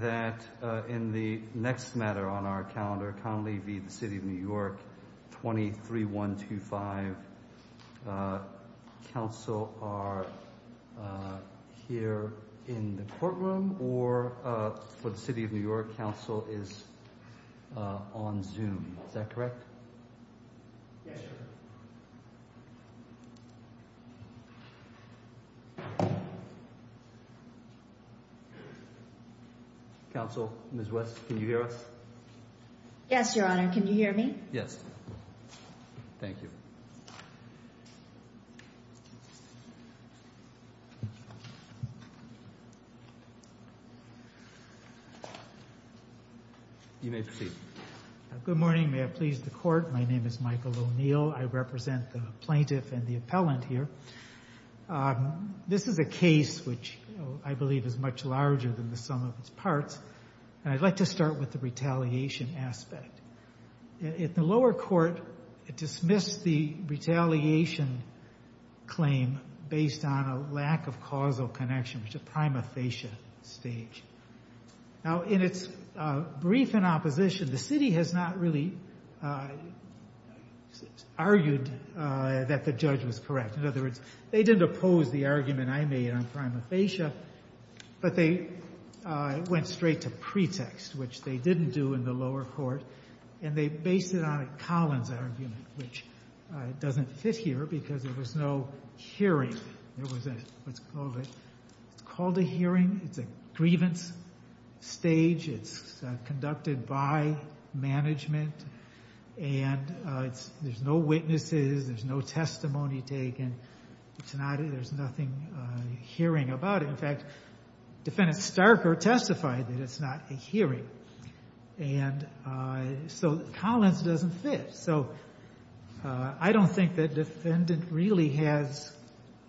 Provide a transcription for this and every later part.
23125 Council are here in the courtroom, or for the City of New York Council is on Zoom. Is that correct? Yes, sir. Counsel, Ms. West, can you hear us? Yes, Your Honor. Can you hear me? Yes. Thank you. You may proceed. Good morning. May it please the Court. My name is Michael O'Neill. I represent the plaintiff and the appellant here. This is a case which I believe is much larger than the sum of its parts, and I'd like to start with the retaliation aspect. In the lower court, it dismissed the retaliation claim based on a lack of causal connection, which is a prima facie stage. Now, in its brief in opposition, the city has not really argued that the judge was correct. In other words, they didn't oppose the argument I made on prima facie, but they went straight to pretext, which they didn't do in the lower court, and they based it on a Collins argument, which doesn't fit here because there was no hearing. It's called a hearing. It's a grievance stage. It's conducted by management, and there's no witnesses. There's no testimony taken. There's nothing hearing about it. In fact, Defendant Starker testified that it's not a hearing, and so Collins doesn't fit. So I don't think that Defendant really has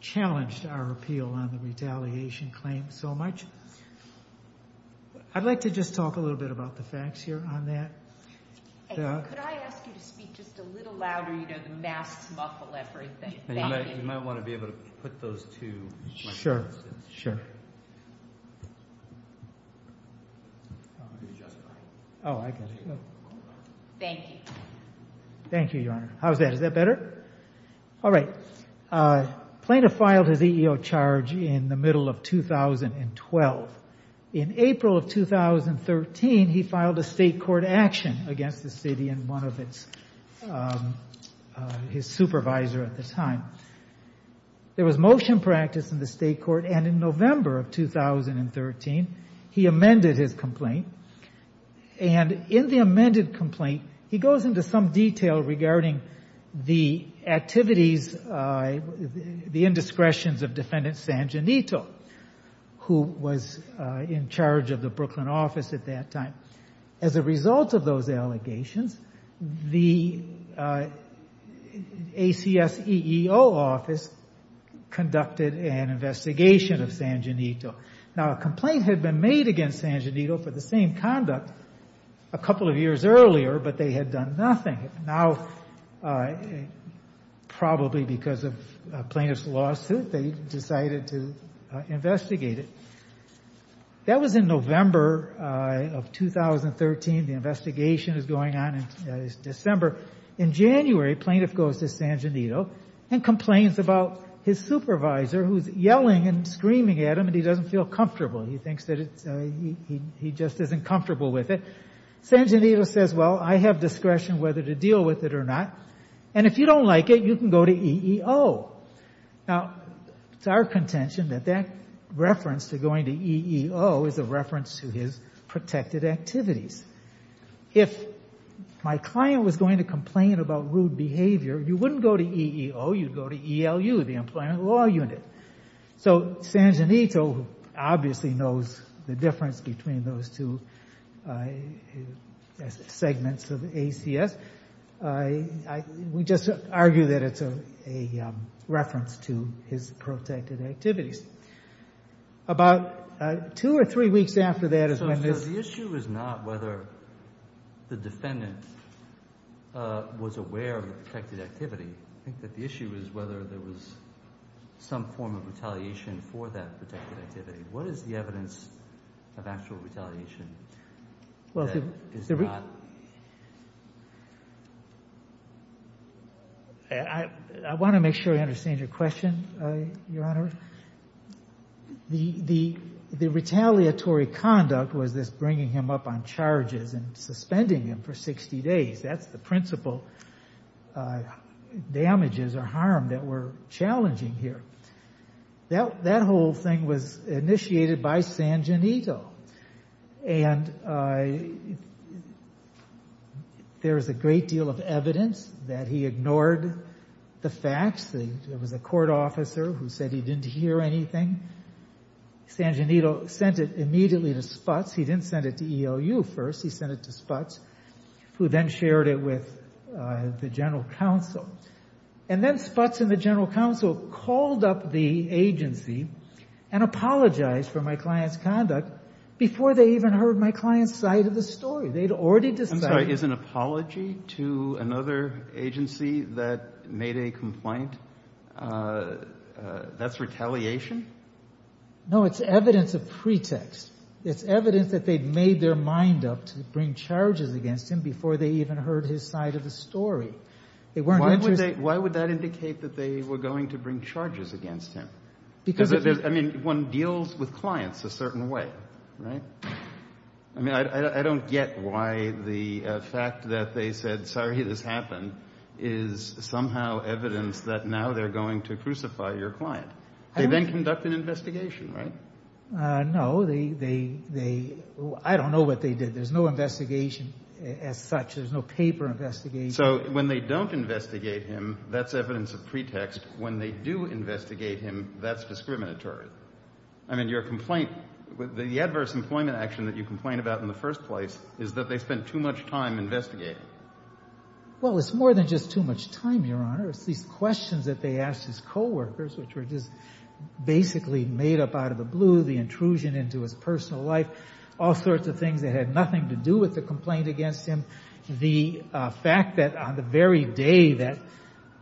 challenged our appeal on the retaliation claim so much. I'd like to just talk a little bit about the facts here on that. Could I ask you to speak just a little louder? You know, the masks muffle everything. You might want to be able to put those two microphones in. Sure, sure. Thank you. Thank you, Your Honor. How's that? Is that better? All right. Plaintiff filed his EEO charge in the middle of 2012. In April of 2013, he filed a state court action against the city and one of its—his supervisor at the time. There was motion practice in the state court, and in November of 2013, he amended his complaint. And in the amended complaint, he goes into some detail regarding the activities, the indiscretions of Defendant Sanginito, who was in charge of the Brooklyn office at that time. As a result of those allegations, the ACS EEO office conducted an investigation of Sanginito. Now, a complaint had been made against Sanginito for the same conduct a couple of years earlier, but they had done nothing. Now, probably because of a plaintiff's lawsuit, they decided to investigate it. That was in November of 2013. The investigation is going on in December. In January, plaintiff goes to Sanginito and complains about his supervisor, who's yelling and screaming at him, and he doesn't feel comfortable. He thinks that he just isn't comfortable with it. Sanginito says, well, I have discretion whether to deal with it or not, and if you don't like it, you can go to EEO. Now, it's our contention that that reference to going to EEO is a reference to his protected activities. If my client was going to complain about rude behavior, you wouldn't go to EEO, you'd go to ELU, the Employment Law Unit. So Sanginito obviously knows the difference between those two segments of ACS. We just argue that it's a reference to his protected activities. About two or three weeks after that is when this— for that protected activity. What is the evidence of actual retaliation that is not— I want to make sure I understand your question, Your Honor. The retaliatory conduct was this bringing him up on charges and suspending him for 60 days. That's the principal damages or harm that were challenging here. That whole thing was initiated by Sanginito, and there is a great deal of evidence that he ignored the facts. There was a court officer who said he didn't hear anything. Sanginito sent it immediately to Sputz. He didn't send it to ELU first. He sent it to Sputz, who then shared it with the general counsel. And then Sputz and the general counsel called up the agency and apologized for my client's conduct before they even heard my client's side of the story. They'd already decided— No, it's evidence of pretext. It's evidence that they'd made their mind up to bring charges against him before they even heard his side of the story. Why would that indicate that they were going to bring charges against him? Because— I mean, one deals with clients a certain way, right? I mean, I don't get why the fact that they said, sorry, this happened, is somehow evidence that now they're going to crucify your client. They then conduct an investigation, right? No, they—I don't know what they did. There's no investigation as such. There's no paper investigation. So when they don't investigate him, that's evidence of pretext. When they do investigate him, that's discriminatory. I mean, your complaint—the adverse employment action that you complain about in the first place is that they spent too much time investigating. Well, it's more than just too much time, Your Honor. It's these questions that they asked his co-workers, which were just basically made up out of the blue, the intrusion into his personal life, all sorts of things that had nothing to do with the complaint against him. The fact that on the very day that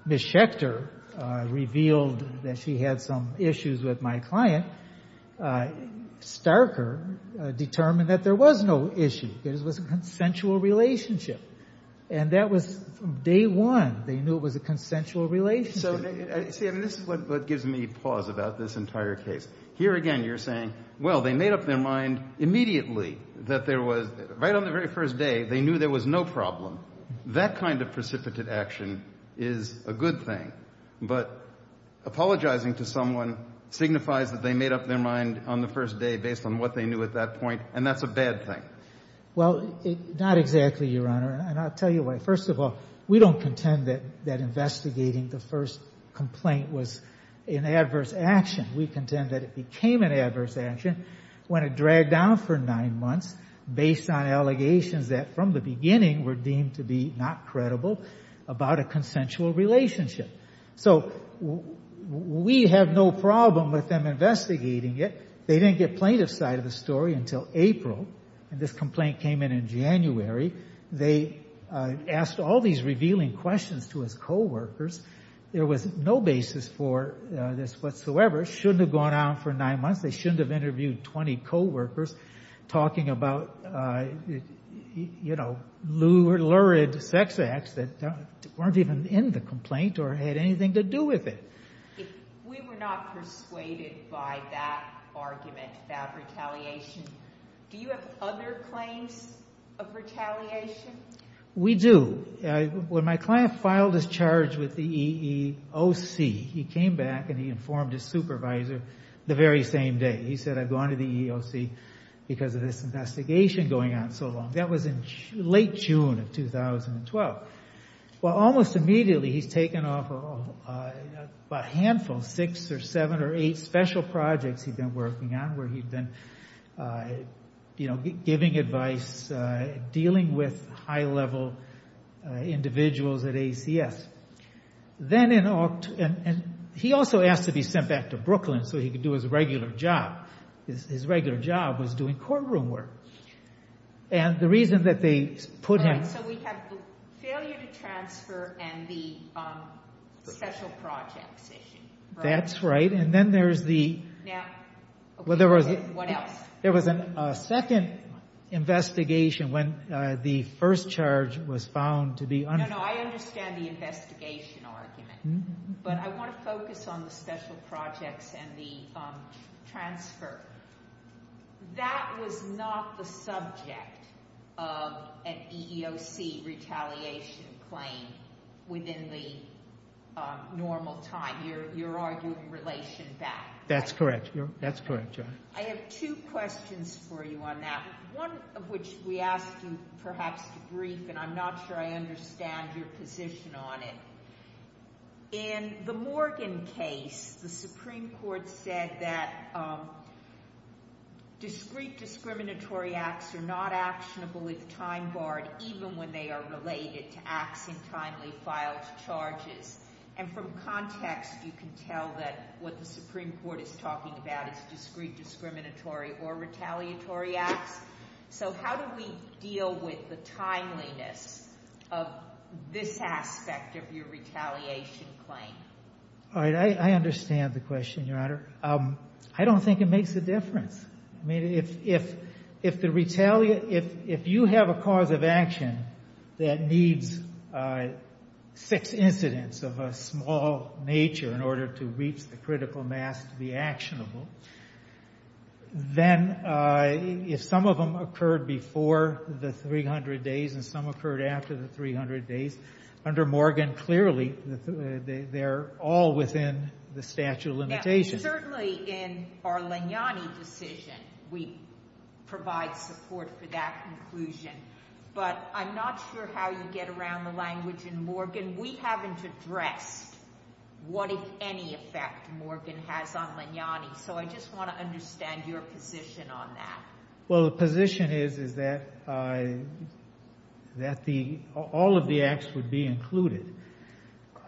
Ms. Schechter revealed that she had some issues with my client, Starker determined that there was no issue. It was a consensual relationship. And that was from day one. They knew it was a consensual relationship. See, this is what gives me pause about this entire case. Here again you're saying, well, they made up their mind immediately that there was— right on the very first day, they knew there was no problem. That kind of precipitate action is a good thing. But apologizing to someone signifies that they made up their mind on the first day based on what they knew at that point, and that's a bad thing. Well, not exactly, Your Honor. And I'll tell you why. First of all, we don't contend that investigating the first complaint was an adverse action. We contend that it became an adverse action when it dragged down for nine months based on allegations that from the beginning were deemed to be not credible about a consensual relationship. So we have no problem with them investigating it. They didn't get plaintiff's side of the story until April, and this complaint came in in January. They asked all these revealing questions to his co-workers. There was no basis for this whatsoever. It shouldn't have gone on for nine months. They shouldn't have interviewed 20 co-workers talking about, you know, lurid sex acts that weren't even in the complaint or had anything to do with it. If we were not persuaded by that argument, that retaliation, do you have other claims of retaliation? We do. When my client filed his charge with the EEOC, he came back and he informed his supervisor the very same day. He said, I've gone to the EEOC because of this investigation going on so long. That was in late June of 2012. Well, almost immediately he's taken off a handful, six or seven or eight special projects he'd been working on where he'd been giving advice, dealing with high-level individuals at ACS. He also asked to be sent back to Brooklyn so he could do his regular job. His regular job was doing courtroom work. And the reason that they put him- Right, so we have the failure to transfer and the special projects issue. That's right. And then there's the- Now, what else? There was a second investigation when the first charge was found to be- No, no, I understand the investigation argument. But I want to focus on the special projects and the transfer. That was not the subject of an EEOC retaliation claim within the normal time. You're arguing relation back. That's correct. That's correct, Judge. I have two questions for you on that, one of which we asked you perhaps to brief, and I'm not sure I understand your position on it. In the Morgan case, the Supreme Court said that discrete discriminatory acts are not actionable if time barred, even when they are related to acts in timely filed charges. And from context, you can tell that what the Supreme Court is talking about is discrete discriminatory or retaliatory acts. So how do we deal with the timeliness of this aspect of your retaliation claim? All right, I understand the question, Your Honor. I don't think it makes a difference. I mean, if you have a cause of action that needs six incidents of a small nature in order to reach the critical mass to be actionable, then if some of them occurred before the 300 days and some occurred after the 300 days, under Morgan, clearly they're all within the statute of limitations. Certainly in our Leniani decision, we provide support for that conclusion. But I'm not sure how you get around the language in Morgan. We haven't addressed what, if any, effect Morgan has on Leniani. So I just want to understand your position on that. Well, the position is that all of the acts would be included.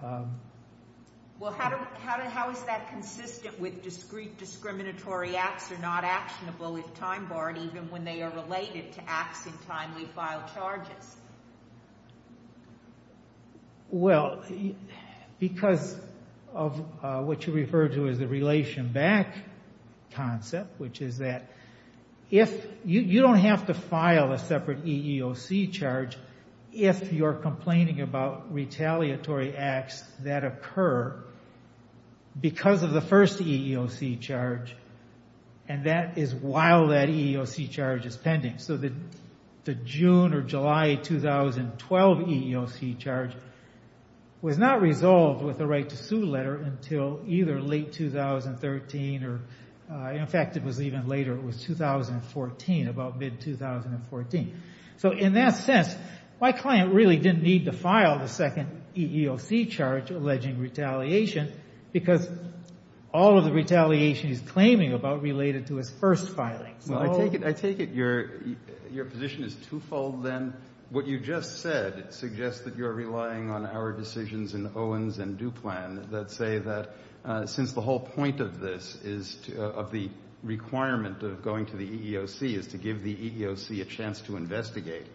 Well, how is that consistent with discrete discriminatory acts are not actionable if time barred, even when they are related to acts in timely filed charges? Well, because of what you referred to as the relation back concept, which is that you don't have to file a separate EEOC charge if you're complaining about retaliatory acts that occur because of the first EEOC charge, and that is while that EEOC charge is pending. So the June or July 2012 EEOC charge was not resolved with a right to sue letter until either late 2013 or, in fact, it was even later. It was 2014, about mid-2014. So in that sense, my client really didn't need to file the second EEOC charge alleging retaliation because all of the retaliation he's claiming about related to his first filing. Well, I take it your position is twofold, then. What you just said suggests that you're relying on our decisions in Owens and Duplan that say that since the whole point of the requirement of going to the EEOC is to give the EEOC a chance to investigate,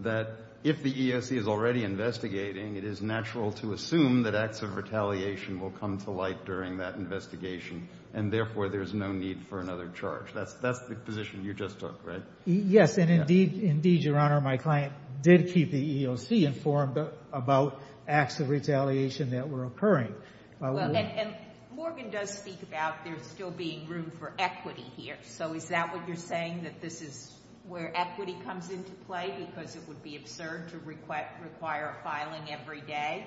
that if the EEOC is already investigating, it is natural to assume that acts of retaliation will come to light during that investigation and, therefore, there's no need for another charge. That's the position you just took, right? Yes, and indeed, Your Honor, my client did keep the EEOC informed about acts of retaliation that were occurring. Well, and Morgan does speak about there still being room for equity here. So is that what you're saying, that this is where equity comes into play because it would be absurd to require a filing every day?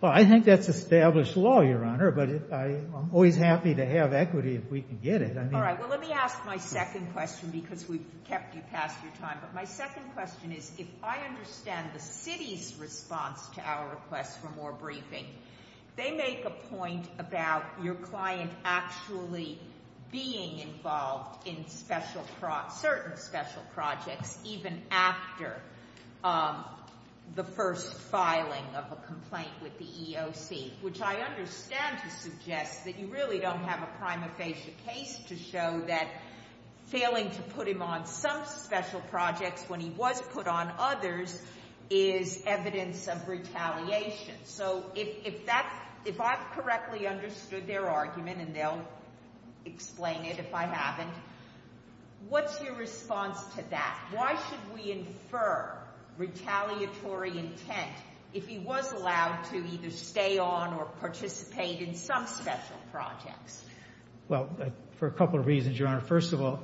Well, I think that's established law, Your Honor, but I'm always happy to have equity if we can get it. All right, well, let me ask my second question because we've kept you past your time, but my second question is if I understand the city's response to our request for more briefing, they make a point about your client actually being involved in certain special projects even after the first filing of a complaint with the EEOC, which I understand to suggest that you really don't have a prima facie case to show that failing to put him on some special projects when he was put on others is evidence of retaliation. So if I've correctly understood their argument, and they'll explain it if I haven't, what's your response to that? Why should we infer retaliatory intent if he was allowed to either stay on or participate in some special projects? Well, for a couple of reasons, Your Honor. First of all,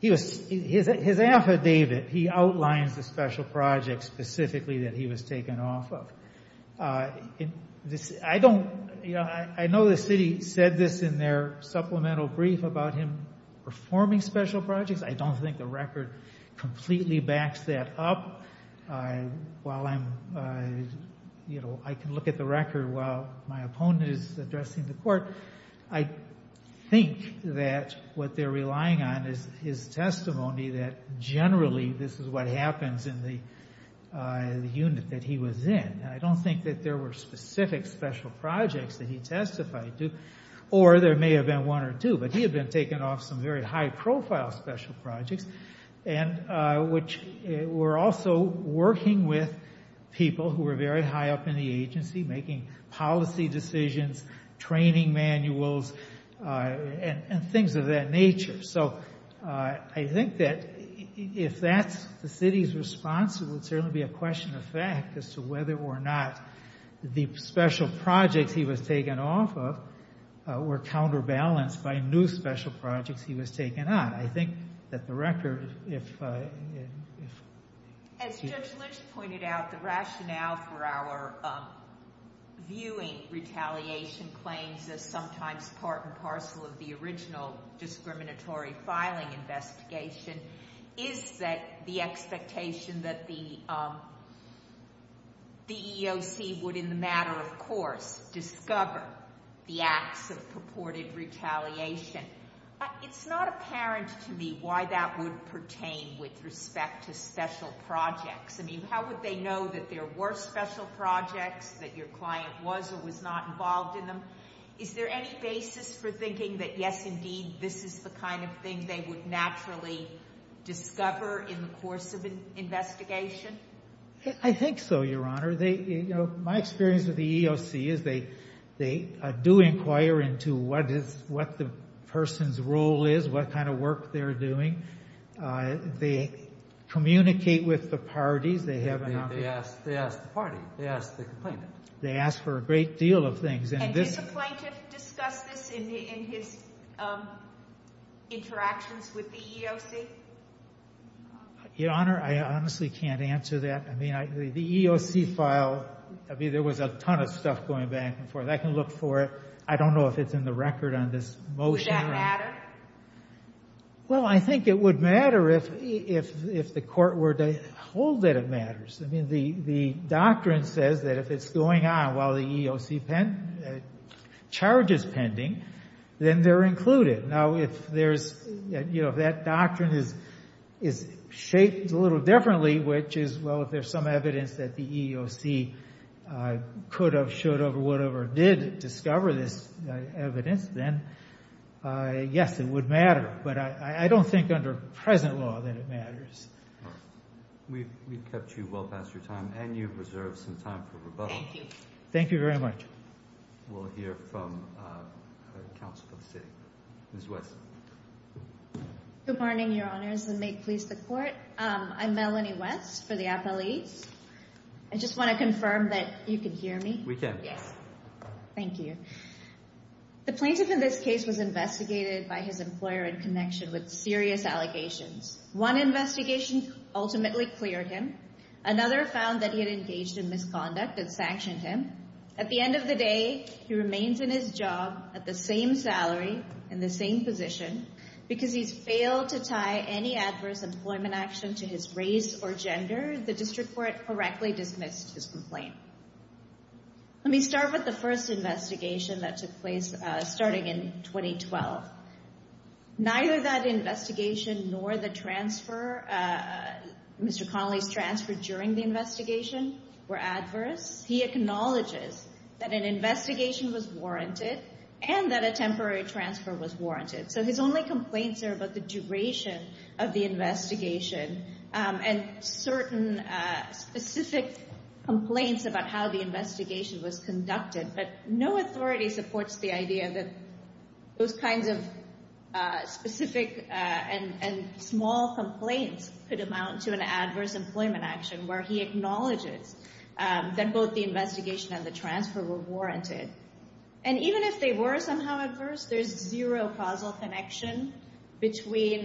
his affidavit, he outlines the special projects specifically that he was taken off of. I know the city said this in their supplemental brief about him performing special projects. I don't think the record completely backs that up. While I can look at the record while my opponent is addressing the court, I think that what they're relying on is his testimony that generally this is what happens in the unit that he was in. I don't think that there were specific special projects that he testified to, or there may have been one or two, but he had been taken off some very high-profile special projects, which were also working with people who were very high up in the agency, making policy decisions, training manuals, and things of that nature. So I think that if that's the city's response, it would certainly be a question of fact as to whether or not the special projects he was taken off of were counterbalanced by new special projects he was taken on. I think that the record, if— As Judge Lynch pointed out, the rationale for our viewing retaliation claims as sometimes part and parcel of the original discriminatory filing investigation is that the expectation that the EEOC would, in the matter of course, discover the acts of purported retaliation. It's not apparent to me why that would pertain with respect to special projects. I mean, how would they know that there were special projects, that your client was or was not involved in them? Is there any basis for thinking that, yes, indeed, this is the kind of thing they would naturally discover in the course of an investigation? I think so, Your Honor. My experience with the EEOC is they do inquire into what the person's role is, what kind of work they're doing. They communicate with the parties. They ask the party. They ask the complainant. They ask for a great deal of things. And does the plaintiff discuss this in his interactions with the EEOC? Your Honor, I honestly can't answer that. I mean, the EEOC file, I mean, there was a ton of stuff going back and forth. I can look for it. I don't know if it's in the record on this motion. Would that matter? Well, I think it would matter if the court were to hold that it matters. I mean, the doctrine says that if it's going on while the EEOC charge is pending, then they're included. Now, if there's, you know, if that doctrine is shaped a little differently, which is, well, if there's some evidence that the EEOC could have, should have, would have, or did discover this evidence, then, yes, it would matter. But I don't think under present law that it matters. We've kept you well past your time, and you've reserved some time for rebuttal. Thank you. Thank you very much. We'll hear from counsel for the city. Ms. West. Good morning, Your Honors, and may it please the Court. I'm Melanie West for the appellees. I just want to confirm that you can hear me? We can. Yes. Thank you. The plaintiff in this case was investigated by his employer in connection with serious allegations. One investigation ultimately cleared him. Another found that he had engaged in misconduct and sanctioned him. At the end of the day, he remains in his job at the same salary, in the same position. Because he's failed to tie any adverse employment action to his race or gender, the district court correctly dismissed his complaint. Let me start with the first investigation that took place starting in 2012. Neither that investigation nor the transfer, Mr. Connolly's transfer during the investigation, were adverse. He acknowledges that an investigation was warranted and that a temporary transfer was warranted. So his only complaints are about the duration of the investigation and certain specific complaints about how the investigation was conducted. But no authority supports the idea that those kinds of specific and small complaints could amount to an adverse employment action, where he acknowledges that both the investigation and the transfer were warranted. And even if they were somehow adverse, there's zero causal connection between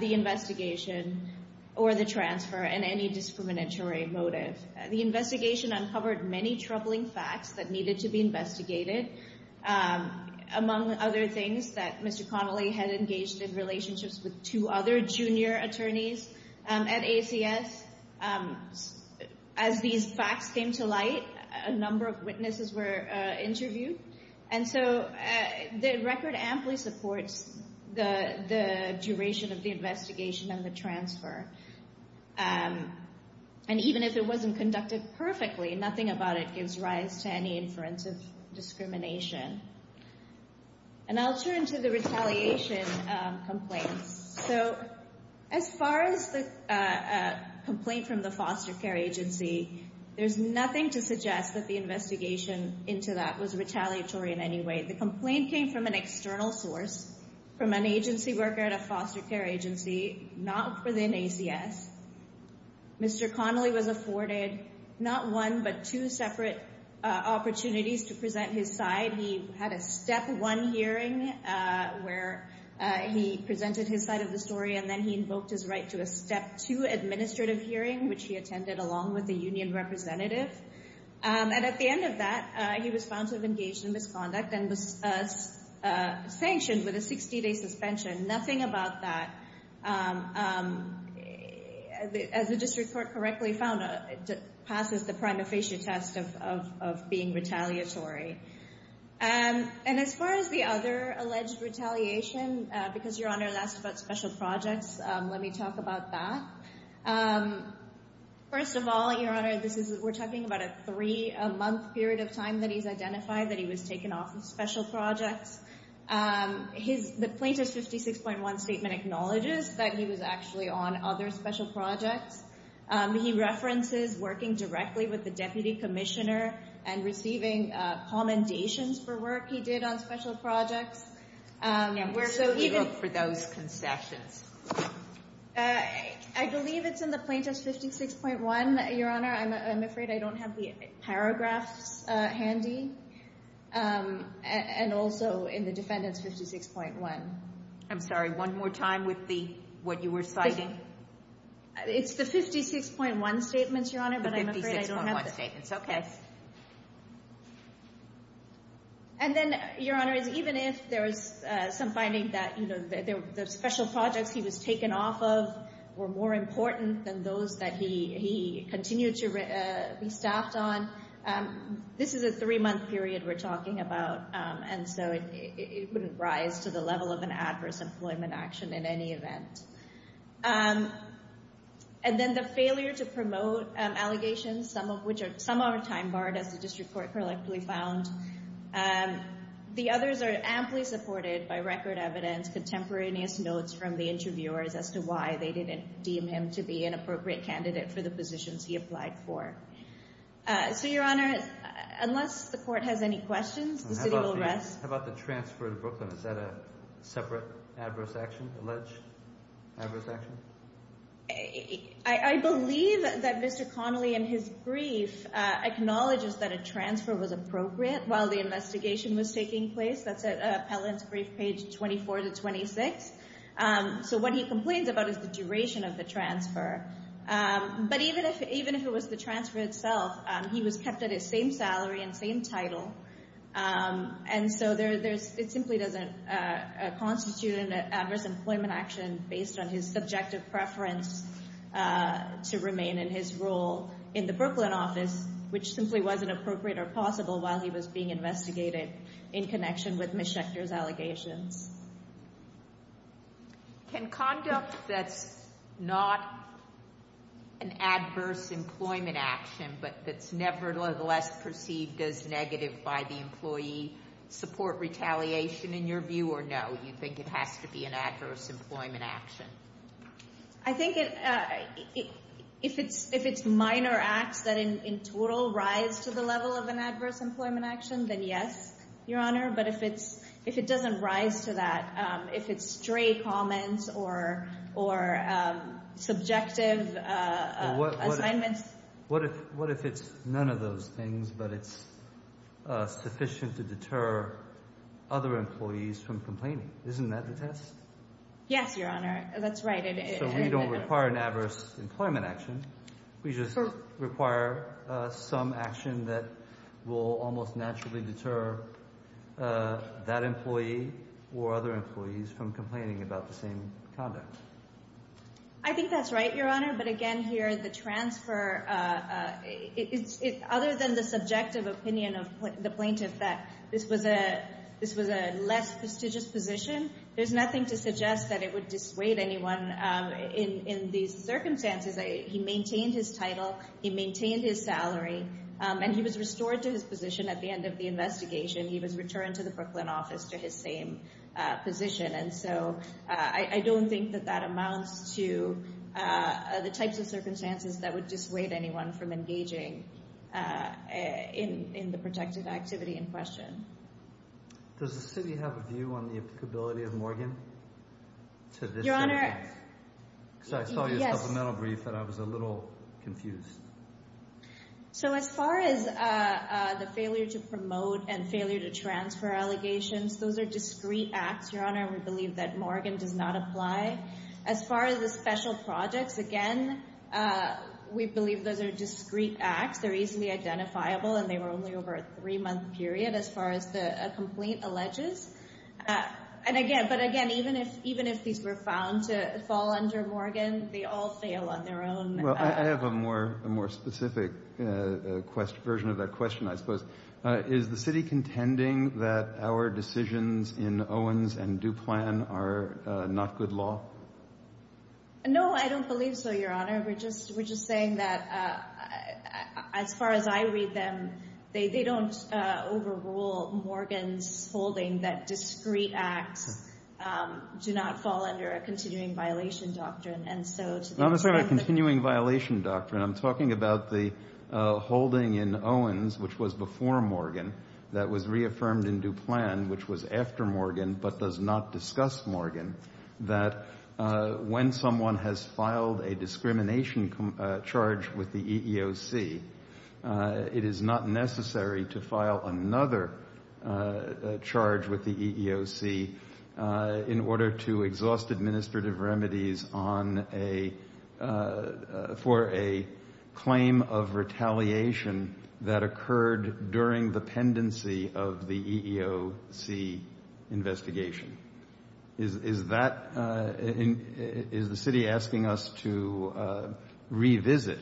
the investigation or the transfer and any discriminatory motive. The investigation uncovered many troubling facts that needed to be investigated, among other things that Mr. Connolly had engaged in relationships with two other junior attorneys at ACS. As these facts came to light, a number of witnesses were interviewed. And so the record amply supports the duration of the investigation and the transfer. And even if it wasn't conducted perfectly, nothing about it gives rise to any inference of discrimination. And I'll turn to the retaliation complaints. So as far as the complaint from the foster care agency, there's nothing to suggest that the investigation into that was retaliatory in any way. The complaint came from an external source, from an agency worker at a foster care agency, not within ACS. Mr. Connolly was afforded not one but two separate opportunities to present his side. He had a step one hearing where he presented his side of the story, and then he invoked his right to a step two administrative hearing, which he attended along with the union representative. And at the end of that, he was found to have engaged in misconduct and was sanctioned with a 60-day suspension. Nothing about that, as the district court correctly found, passes the prima facie test of being retaliatory. And as far as the other alleged retaliation, because, Your Honor, that's about special projects, let me talk about that. First of all, Your Honor, we're talking about a three-month period of time that he's identified that he was taken off of special projects. The plaintiff's 56.1 statement acknowledges that he was actually on other special projects. He references working directly with the deputy commissioner and receiving commendations for work he did on special projects. Where did he work for those concessions? I believe it's in the plaintiff's 56.1, Your Honor. I'm afraid I don't have the paragraphs handy. And also in the defendant's 56.1. I'm sorry, one more time with what you were citing. It's the 56.1 statements, Your Honor, but I'm afraid I don't have them. The 56.1 statements, okay. And then, Your Honor, even if there's some finding that the special projects he was taken off of were more important than those that he continued to be staffed on, this is a three-month period we're talking about, and so it wouldn't rise to the level of an adverse employment action in any event. And then the failure to promote allegations, some of which are time-barred, as the district court correctly found. The others are amply supported by record evidence, contemporaneous notes from the interviewers as to why they didn't deem him to be an appropriate candidate for the positions he applied for. So, Your Honor, unless the court has any questions, the city will rest. How about the transfer to Brooklyn? Is that a separate adverse action, alleged adverse action? I believe that Mr. Connolly, in his brief, acknowledges that a transfer was appropriate while the investigation was taking place. That's at Appellant's brief, page 24 to 26. So what he complains about is the duration of the transfer. But even if it was the transfer itself, he was kept at his same salary and same title. And so it simply doesn't constitute an adverse employment action based on his subjective preference to remain in his role in the Brooklyn office, which simply wasn't appropriate or possible while he was being investigated in connection with Ms. Schechter's allegations. Can conduct that's not an adverse employment action but that's nevertheless perceived as negative by the employee support retaliation, in your view, or no? You think it has to be an adverse employment action? I think if it's minor acts that in total rise to the level of an adverse employment action, then yes, Your Honor. But if it doesn't rise to that, if it's stray comments or subjective assignments. What if it's none of those things but it's sufficient to deter other employees from complaining? Isn't that the test? Yes, Your Honor. That's right. So we don't require an adverse employment action. We just require some action that will almost naturally deter that employee or other employees from complaining about the same conduct. I think that's right, Your Honor. But again, here, the transfer, other than the subjective opinion of the plaintiff that this was a less prestigious position, there's nothing to suggest that it would dissuade anyone in these circumstances. He maintained his title. He maintained his salary. And he was restored to his position at the end of the investigation. He was returned to the Brooklyn office to his same position. And so I don't think that that amounts to the types of circumstances that would dissuade anyone from engaging in the protective activity in question. Does the city have a view on the applicability of Morgan to this case? Your Honor, yes. Because I saw your supplemental brief and I was a little confused. So as far as the failure to promote and failure to transfer allegations, those are discrete acts, Your Honor. We believe that Morgan does not apply. As far as the special projects, again, we believe those are discrete acts. They're easily identifiable and they were only over a three-month period as far as a complaint alleges. But again, even if these were found to fall under Morgan, they all fail on their own. Well, I have a more specific version of that question, I suppose. Is the city contending that our decisions in Owens and Duplan are not good law? No, I don't believe so, Your Honor. We're just saying that as far as I read them, they don't overrule Morgan's holding that discrete acts do not fall under a continuing violation doctrine. Not necessarily a continuing violation doctrine. I'm talking about the holding in Owens, which was before Morgan, that was reaffirmed in Duplan, which was after Morgan, but does not discuss Morgan, that when someone has filed a discrimination charge with the EEOC, it is not necessary to file another charge with the EEOC in order to exhaust administrative remedies for a claim of retaliation that occurred during the pendency of the EEOC investigation. Is the city asking us to revisit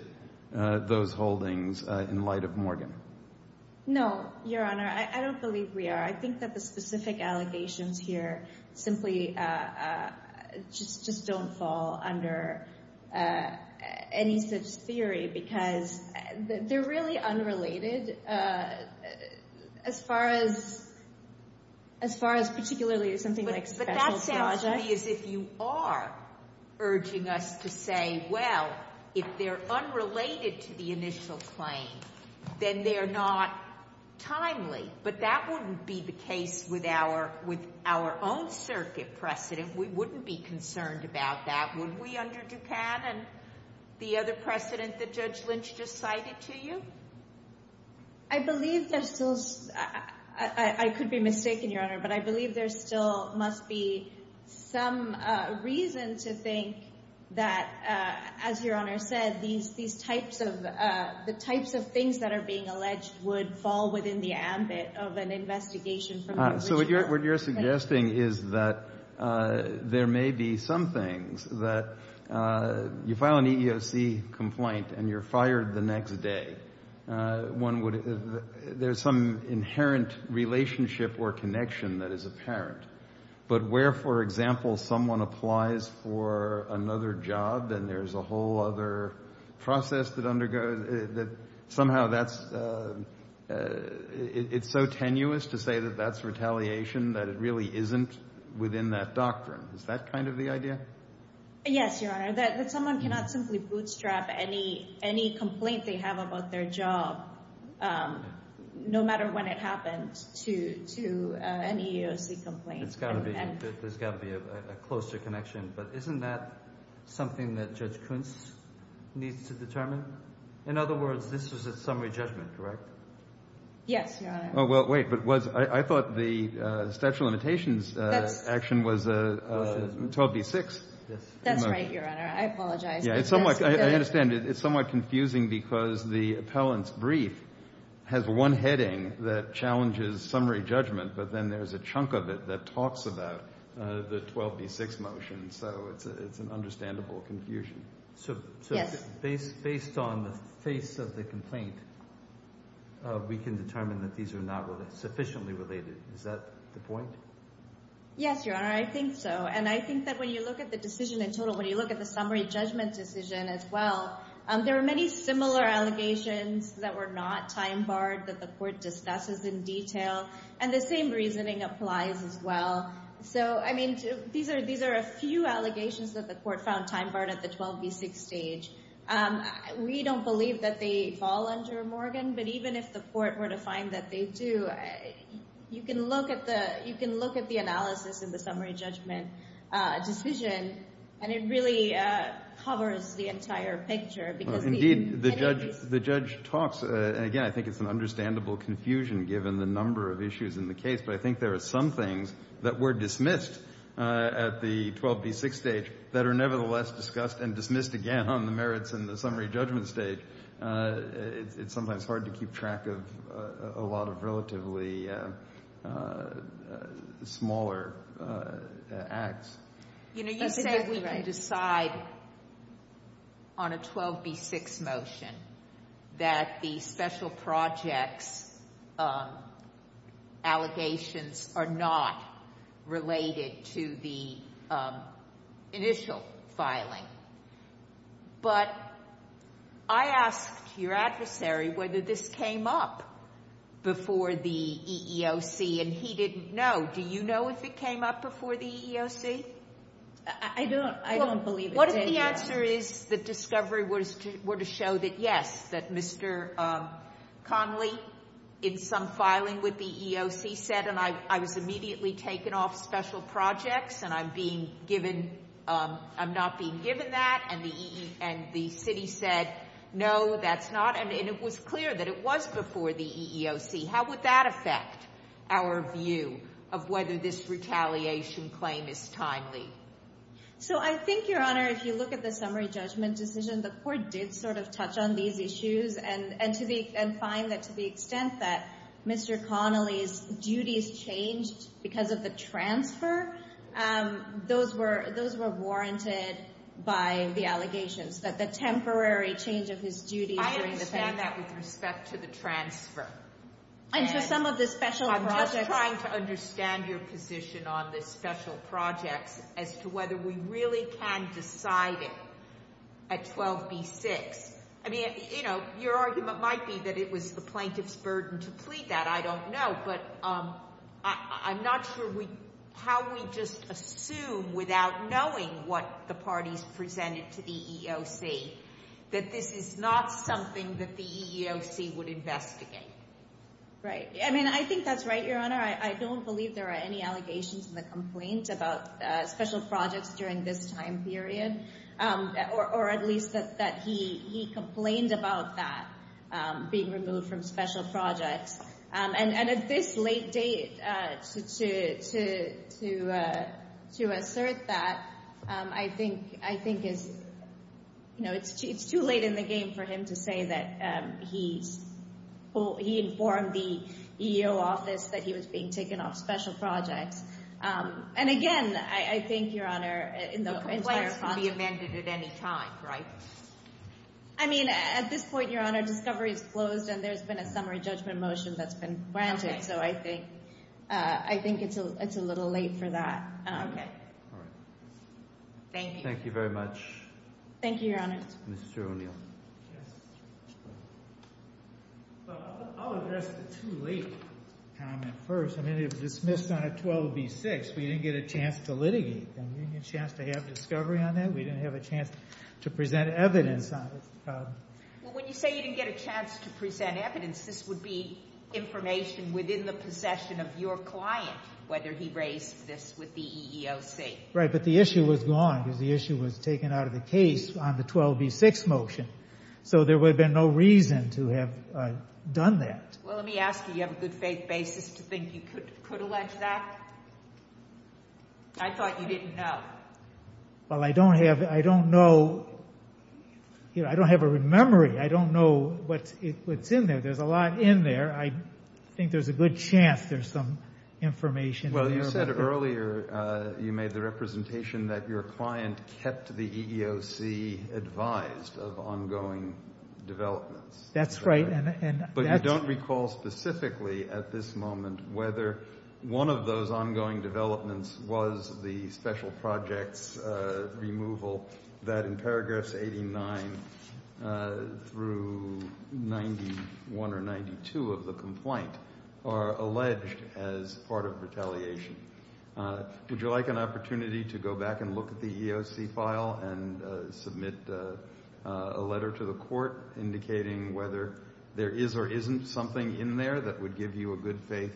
those holdings in light of Morgan? No, Your Honor. I don't believe we are. I think that the specific allegations here simply just don't fall under any such theory because they're really unrelated. As far as particularly something like special charges. But that sounds to me as if you are urging us to say, well, if they're unrelated to the initial claim, then they're not timely. But that wouldn't be the case with our own circuit precedent. We wouldn't be concerned about that, would we, under Duplan and the other precedent that Judge Lynch just cited to you? I believe there still is. I could be mistaken, Your Honor, but I believe there still must be some reason to think that, as Your Honor said, these types of the types of things that are being alleged would fall within the ambit of an investigation. So what you're suggesting is that there may be some things that you file an EEOC complaint and you're fired the next day. One would there's some inherent relationship or connection that is apparent. But where, for example, someone applies for another job, then there's a whole other process that undergoes that somehow that's it's so tenuous to say that that's retaliation, that it really isn't within that doctrine. Is that kind of the idea? Yes, Your Honor, that someone cannot simply bootstrap any complaint they have about their job, no matter when it happens to an EEOC complaint. There's got to be a closer connection. But isn't that something that Judge Kuntz needs to determine? In other words, this was a summary judgment, correct? Yes, Your Honor. Oh, well, wait, but I thought the statute of limitations action was 12b-6. That's right, Your Honor. I apologize. I understand. It's somewhat confusing because the appellant's brief has one heading that challenges summary judgment, but then there's a chunk of it that talks about the 12b-6 motion. So it's an understandable confusion. So based on the face of the complaint, we can determine that these are not sufficiently related. Is that the point? Yes, Your Honor, I think so. And I think that when you look at the decision in total, when you look at the summary judgment decision as well, there were many similar allegations that were not time-barred that the court discusses in detail, and the same reasoning applies as well. So, I mean, these are a few allegations that the court found time-barred at the 12b-6 stage. We don't believe that they fall under Morgan, but even if the court were to find that they do, you can look at the analysis in the summary judgment decision, and it really covers the entire picture. Indeed, the judge talks, and again, I think it's an understandable confusion given the number of issues in the case, but I think there are some things that were dismissed at the 12b-6 stage that are nevertheless discussed and dismissed again on the merits and the summary judgment stage. It's sometimes hard to keep track of a lot of relatively smaller acts. You know, you said we can decide on a 12b-6 motion that the special projects allegations are not related to the initial filing, but I asked your adversary whether this came up before the EEOC, and he didn't know. Do you know if it came up before the EEOC? I don't. I don't believe it did. Well, what if the answer is the discovery were to show that, yes, that Mr. Connolly, in some filing with the EEOC, said, and I was immediately taken off special projects and I'm not being given that, and the city said, no, that's not, and it was clear that it was before the EEOC. How would that affect our view of whether this retaliation claim is timely? So I think, Your Honor, if you look at the summary judgment decision, the court did sort of touch on these issues and find that to the extent that Mr. Connolly's duties changed because of the transfer, those were warranted by the allegations, that the temporary change of his duties. I understand that with respect to the transfer. And to some of the special projects. I'm just trying to understand your position on the special projects as to whether we really can decide it at 12b-6. I mean, you know, your argument might be that it was the plaintiff's burden to plead that. I don't know. But I'm not sure how we just assume without knowing what the parties presented to the EEOC that this is not something that the EEOC would investigate. Right. I mean, I think that's right, Your Honor. I don't believe there are any allegations in the complaint about special projects during this time period. Or at least that he complained about that being removed from special projects. And at this late date, to assert that, I think it's too late in the game for him to say that he informed the EEOC that he was being taken off special projects. And again, I think, Your Honor, in the complaints... The complaints can be amended at any time, right? I mean, at this point, Your Honor, discovery is closed and there's been a summary judgment motion that's been granted. So I think it's a little late for that. Okay. All right. Thank you. Thank you very much. Thank you, Your Honor. Mr. O'Neill. I'll address the too late comment first. I mean, it was dismissed on a 12b-6. We didn't get a chance to litigate them. We didn't get a chance to have discovery on that. We didn't have a chance to present evidence on it. Well, when you say you didn't get a chance to present evidence, this would be information within the possession of your client, whether he raised this with the EEOC. Right. But the issue was gone because the issue was taken out of the case on the 12b-6 motion. So there would have been no reason to have done that. Well, let me ask you. You have a good faith basis to think you could allege that? I thought you didn't know. Well, I don't have a memory. I don't know what's in there. There's a lot in there. I think there's a good chance there's some information. Well, you said earlier you made the representation that your client kept the EEOC advised of ongoing developments. That's right. But you don't recall specifically at this moment whether one of those ongoing developments was the special projects removal that in paragraphs 89 through 91 or 92 of the complaint are alleged as part of retaliation. Would you like an opportunity to go back and look at the EEOC file and submit a letter to the court indicating whether there is or isn't something in there that would give you a good faith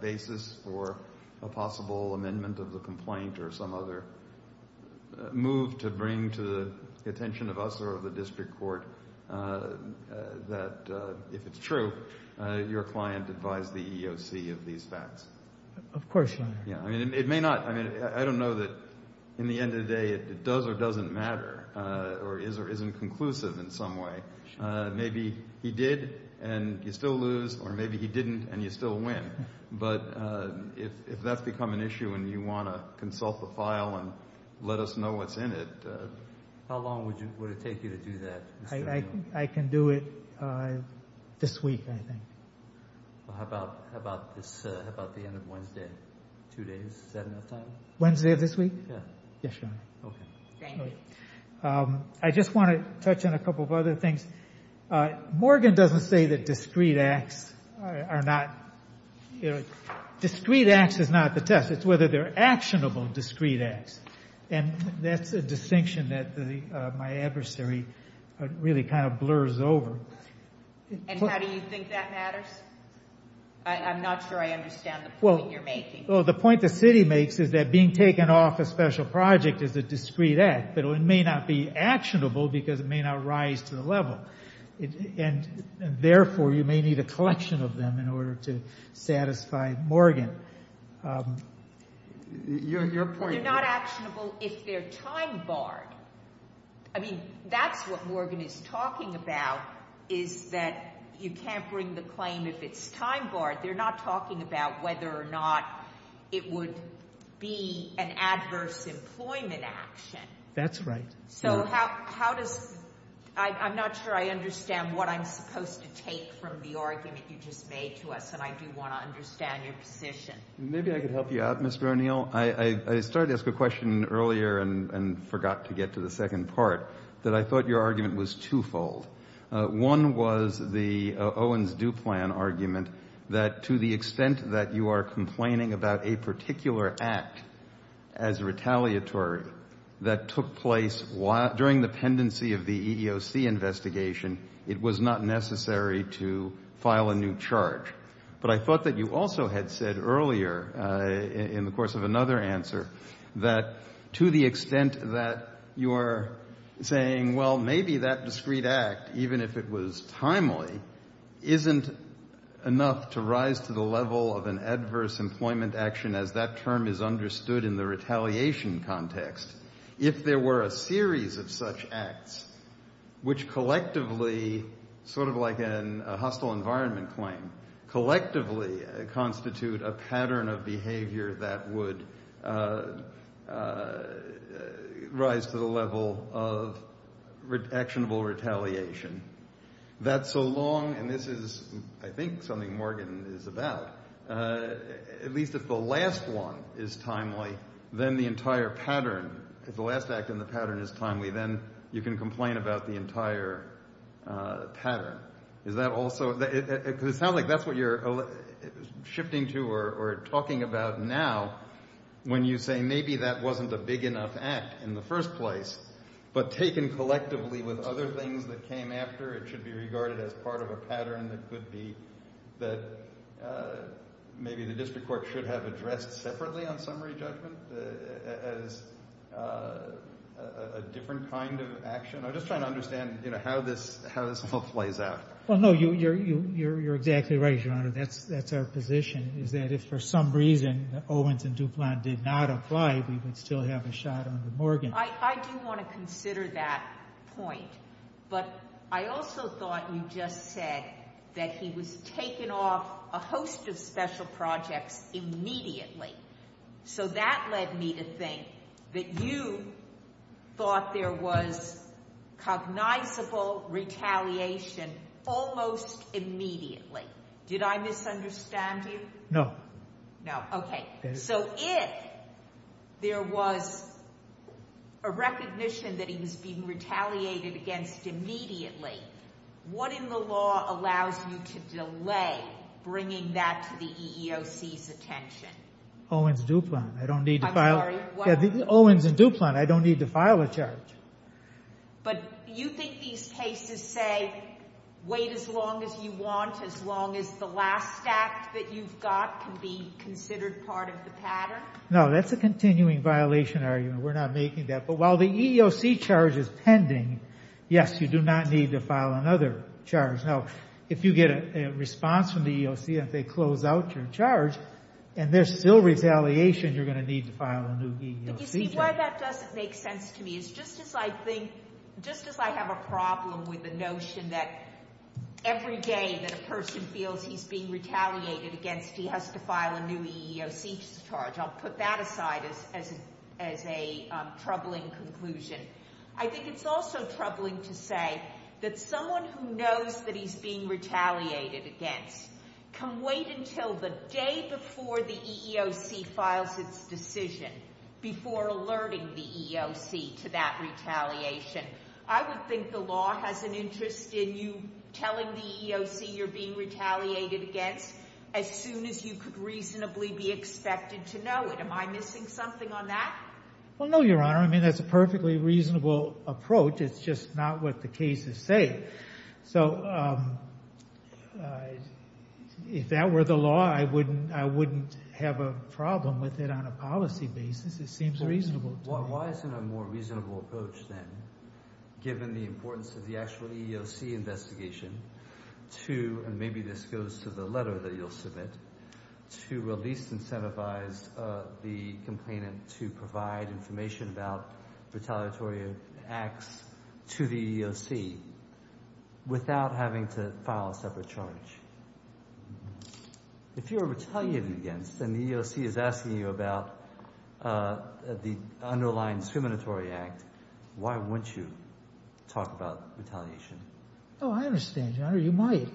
basis for a possible amendment of the complaint or some other move to bring to the attention of us or of the district court that, if it's true, your client advised the EEOC of these facts? Of course, Your Honor. I don't know that in the end of the day it does or doesn't matter or is or isn't conclusive in some way. Maybe he did and you still lose, or maybe he didn't and you still win. But if that's become an issue and you want to consult the file and let us know what's in it, how long would it take you to do that, Mr. O'Neill? I can do it this week, I think. Well, how about the end of Wednesday? Two days, is that enough time? Wednesday of this week? Yeah. Yes, Your Honor. Okay. Thank you. I just want to touch on a couple of other things. Morgan doesn't say that discrete acts are not – discrete acts is not the test. It's whether they're actionable discrete acts, and that's a distinction that my adversary really kind of blurs over. And how do you think that matters? I'm not sure I understand the point you're making. Well, the point the city makes is that being taken off a special project is a discrete act, but it may not be actionable because it may not rise to the level. And, therefore, you may need a collection of them in order to satisfy Morgan. Your point – I mean, that's what Morgan is talking about, is that you can't bring the claim if it's time barred. They're not talking about whether or not it would be an adverse employment action. That's right. So how does – I'm not sure I understand what I'm supposed to take from the argument you just made to us, and I do want to understand your position. Maybe I could help you out, Mr. O'Neill. Well, I started to ask a question earlier and forgot to get to the second part, that I thought your argument was twofold. One was the Owens-Duplan argument that to the extent that you are complaining about a particular act as retaliatory that took place during the pendency of the EEOC investigation, it was not necessary to file a new charge. But I thought that you also had said earlier in the course of another answer that to the extent that you are saying, well, maybe that discrete act, even if it was timely, isn't enough to rise to the level of an adverse employment action as that term is understood in the retaliation context. If there were a series of such acts which collectively, sort of like a hostile environment claim, collectively constitute a pattern of behavior that would rise to the level of actionable retaliation, that so long, and this is, I think, something Morgan is about, at least if the last one is timely, then the entire pattern, if the last act in the pattern is timely, then you can complain about the entire pattern. Is that also – because it sounds like that's what you're shifting to or talking about now when you say maybe that wasn't a big enough act in the first place, but taken collectively with other things that came after, it should be regarded as part of a pattern that could be – that maybe the district court should have addressed separately on summary judgment as a different kind of action? I'm just trying to understand how this all plays out. Well, no, you're exactly right, Your Honor. That's our position is that if for some reason Owens and Duplan did not apply, we would still have a shot on Morgan. I do want to consider that point, but I also thought you just said that he was taken off a host of special projects immediately. So that led me to think that you thought there was cognizable retaliation almost immediately. Did I misunderstand you? No. No, okay. So if there was a recognition that he was being retaliated against immediately, what in the law allows you to delay bringing that to the EEOC's attention? Owens and Duplan. I don't need to file – I'm sorry? Owens and Duplan. I don't need to file a charge. But you think these cases say wait as long as you want, as long as the last act that you've got can be considered part of the pattern? No, that's a continuing violation argument. We're not making that. But while the EEOC charge is pending, yes, you do not need to file another charge. Now, if you get a response from the EEOC and they close out your charge and there's still retaliation, you're going to need to file a new EEOC charge. You see, why that doesn't make sense to me is just as I think – just as I have a problem with the notion that every day that a person feels he's being retaliated against, he has to file a new EEOC charge. I'll put that aside as a troubling conclusion. I think it's also troubling to say that someone who knows that he's being retaliated against can wait until the day before the EEOC files its decision before alerting the EEOC to that retaliation. I would think the law has an interest in you telling the EEOC you're being retaliated against as soon as you could reasonably be expected to know it. Am I missing something on that? Well, no, Your Honor. I mean that's a perfectly reasonable approach. It's just not what the cases say. So if that were the law, I wouldn't have a problem with it on a policy basis. It seems reasonable to me. Why isn't a more reasonable approach then, given the importance of the actual EEOC investigation, to – and maybe this goes to the letter that you'll submit – to at least incentivize the complainant to provide information about retaliatory acts to the EEOC without having to file a separate charge? If you're retaliated against and the EEOC is asking you about the underlying discriminatory act, why wouldn't you talk about retaliation? Oh, I understand, Your Honor. You might.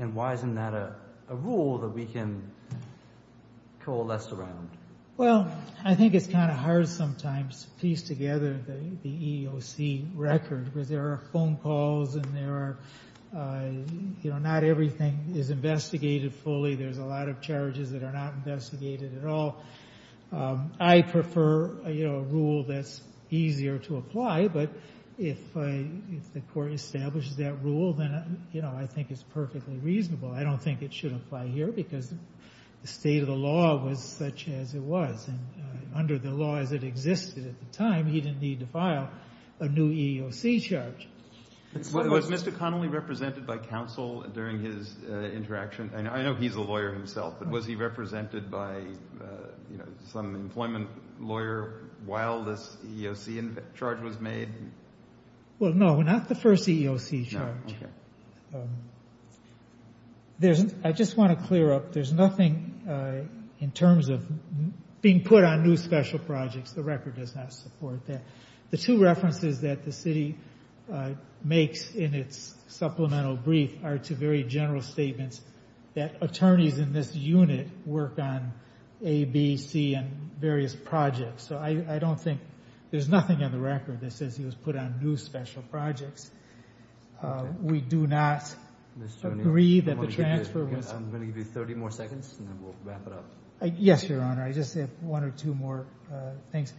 And why isn't that a rule that we can coalesce around? Well, I think it's kind of hard sometimes to piece together the EEOC record, because there are phone calls and there are – not everything is investigated fully. There's a lot of charges that are not investigated at all. I prefer a rule that's easier to apply, but if the court establishes that rule, then I think it's perfectly reasonable. I don't think it should apply here, because the state of the law was such as it was. And under the laws that existed at the time, he didn't need to file a new EEOC charge. Was Mr. Connolly represented by counsel during his interaction? I know he's a lawyer himself, but was he represented by some employment lawyer while this EEOC charge was made? Well, no, not the first EEOC charge. Okay. I just want to clear up, there's nothing in terms of being put on new special projects. The record does not support that. The two references that the city makes in its supplemental brief are two very general statements that attorneys in this unit work on A, B, C, and various projects. So I don't think there's nothing in the record that says he was put on new special projects. We do not agree that the transfer was – I'm going to give you 30 more seconds, and then we'll wrap it up. Yes, Your Honor. I just have one or two more things.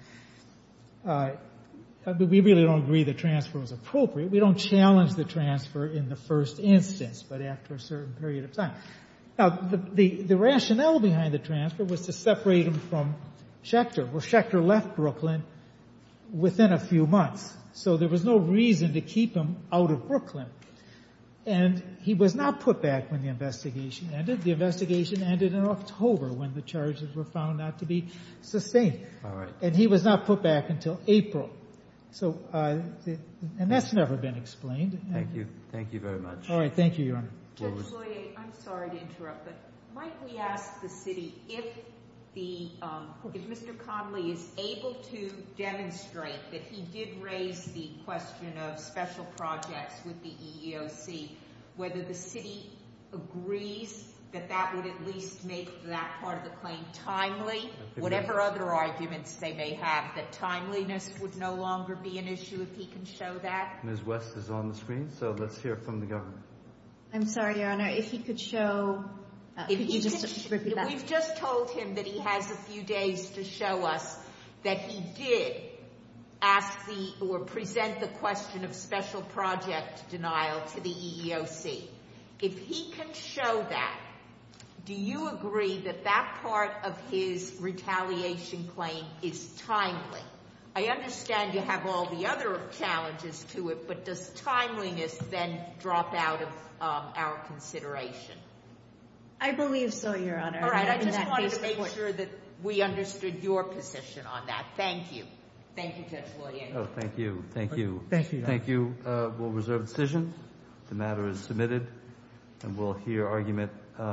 We really don't agree the transfer was appropriate. We don't challenge the transfer in the first instance, but after a certain period of time. The rationale behind the transfer was to separate him from Schechter. Well, Schechter left Brooklyn within a few months, so there was no reason to keep him out of Brooklyn. And he was not put back when the investigation ended. The investigation ended in October when the charges were found not to be sustained. All right. And he was not put back until April. So – and that's never been explained. Thank you very much. All right, thank you, Your Honor. Judge Loyer, I'm sorry to interrupt, but might we ask the city if the – if Mr. Connolly is able to demonstrate that he did raise the question of special projects with the EEOC, whether the city agrees that that would at least make that part of the claim timely, whatever other arguments they may have, that timeliness would no longer be an issue if he can show that? Ms. West is on the screen, so let's hear from the government. I'm sorry, Your Honor. If he could show – could you just repeat that? We've just told him that he has a few days to show us that he did ask the – or present the question of special project denial to the EEOC. If he can show that, do you agree that that part of his retaliation claim is timely? I understand you have all the other challenges to it, but does timeliness then drop out of our consideration? I believe so, Your Honor. All right, I just wanted to make sure that we understood your position on that. Thank you. Thank you, Judge Loyer. Oh, thank you. Thank you. Thank you, Your Honor. Thank you. We'll reserve decisions. The matter is submitted, and we'll hear argument.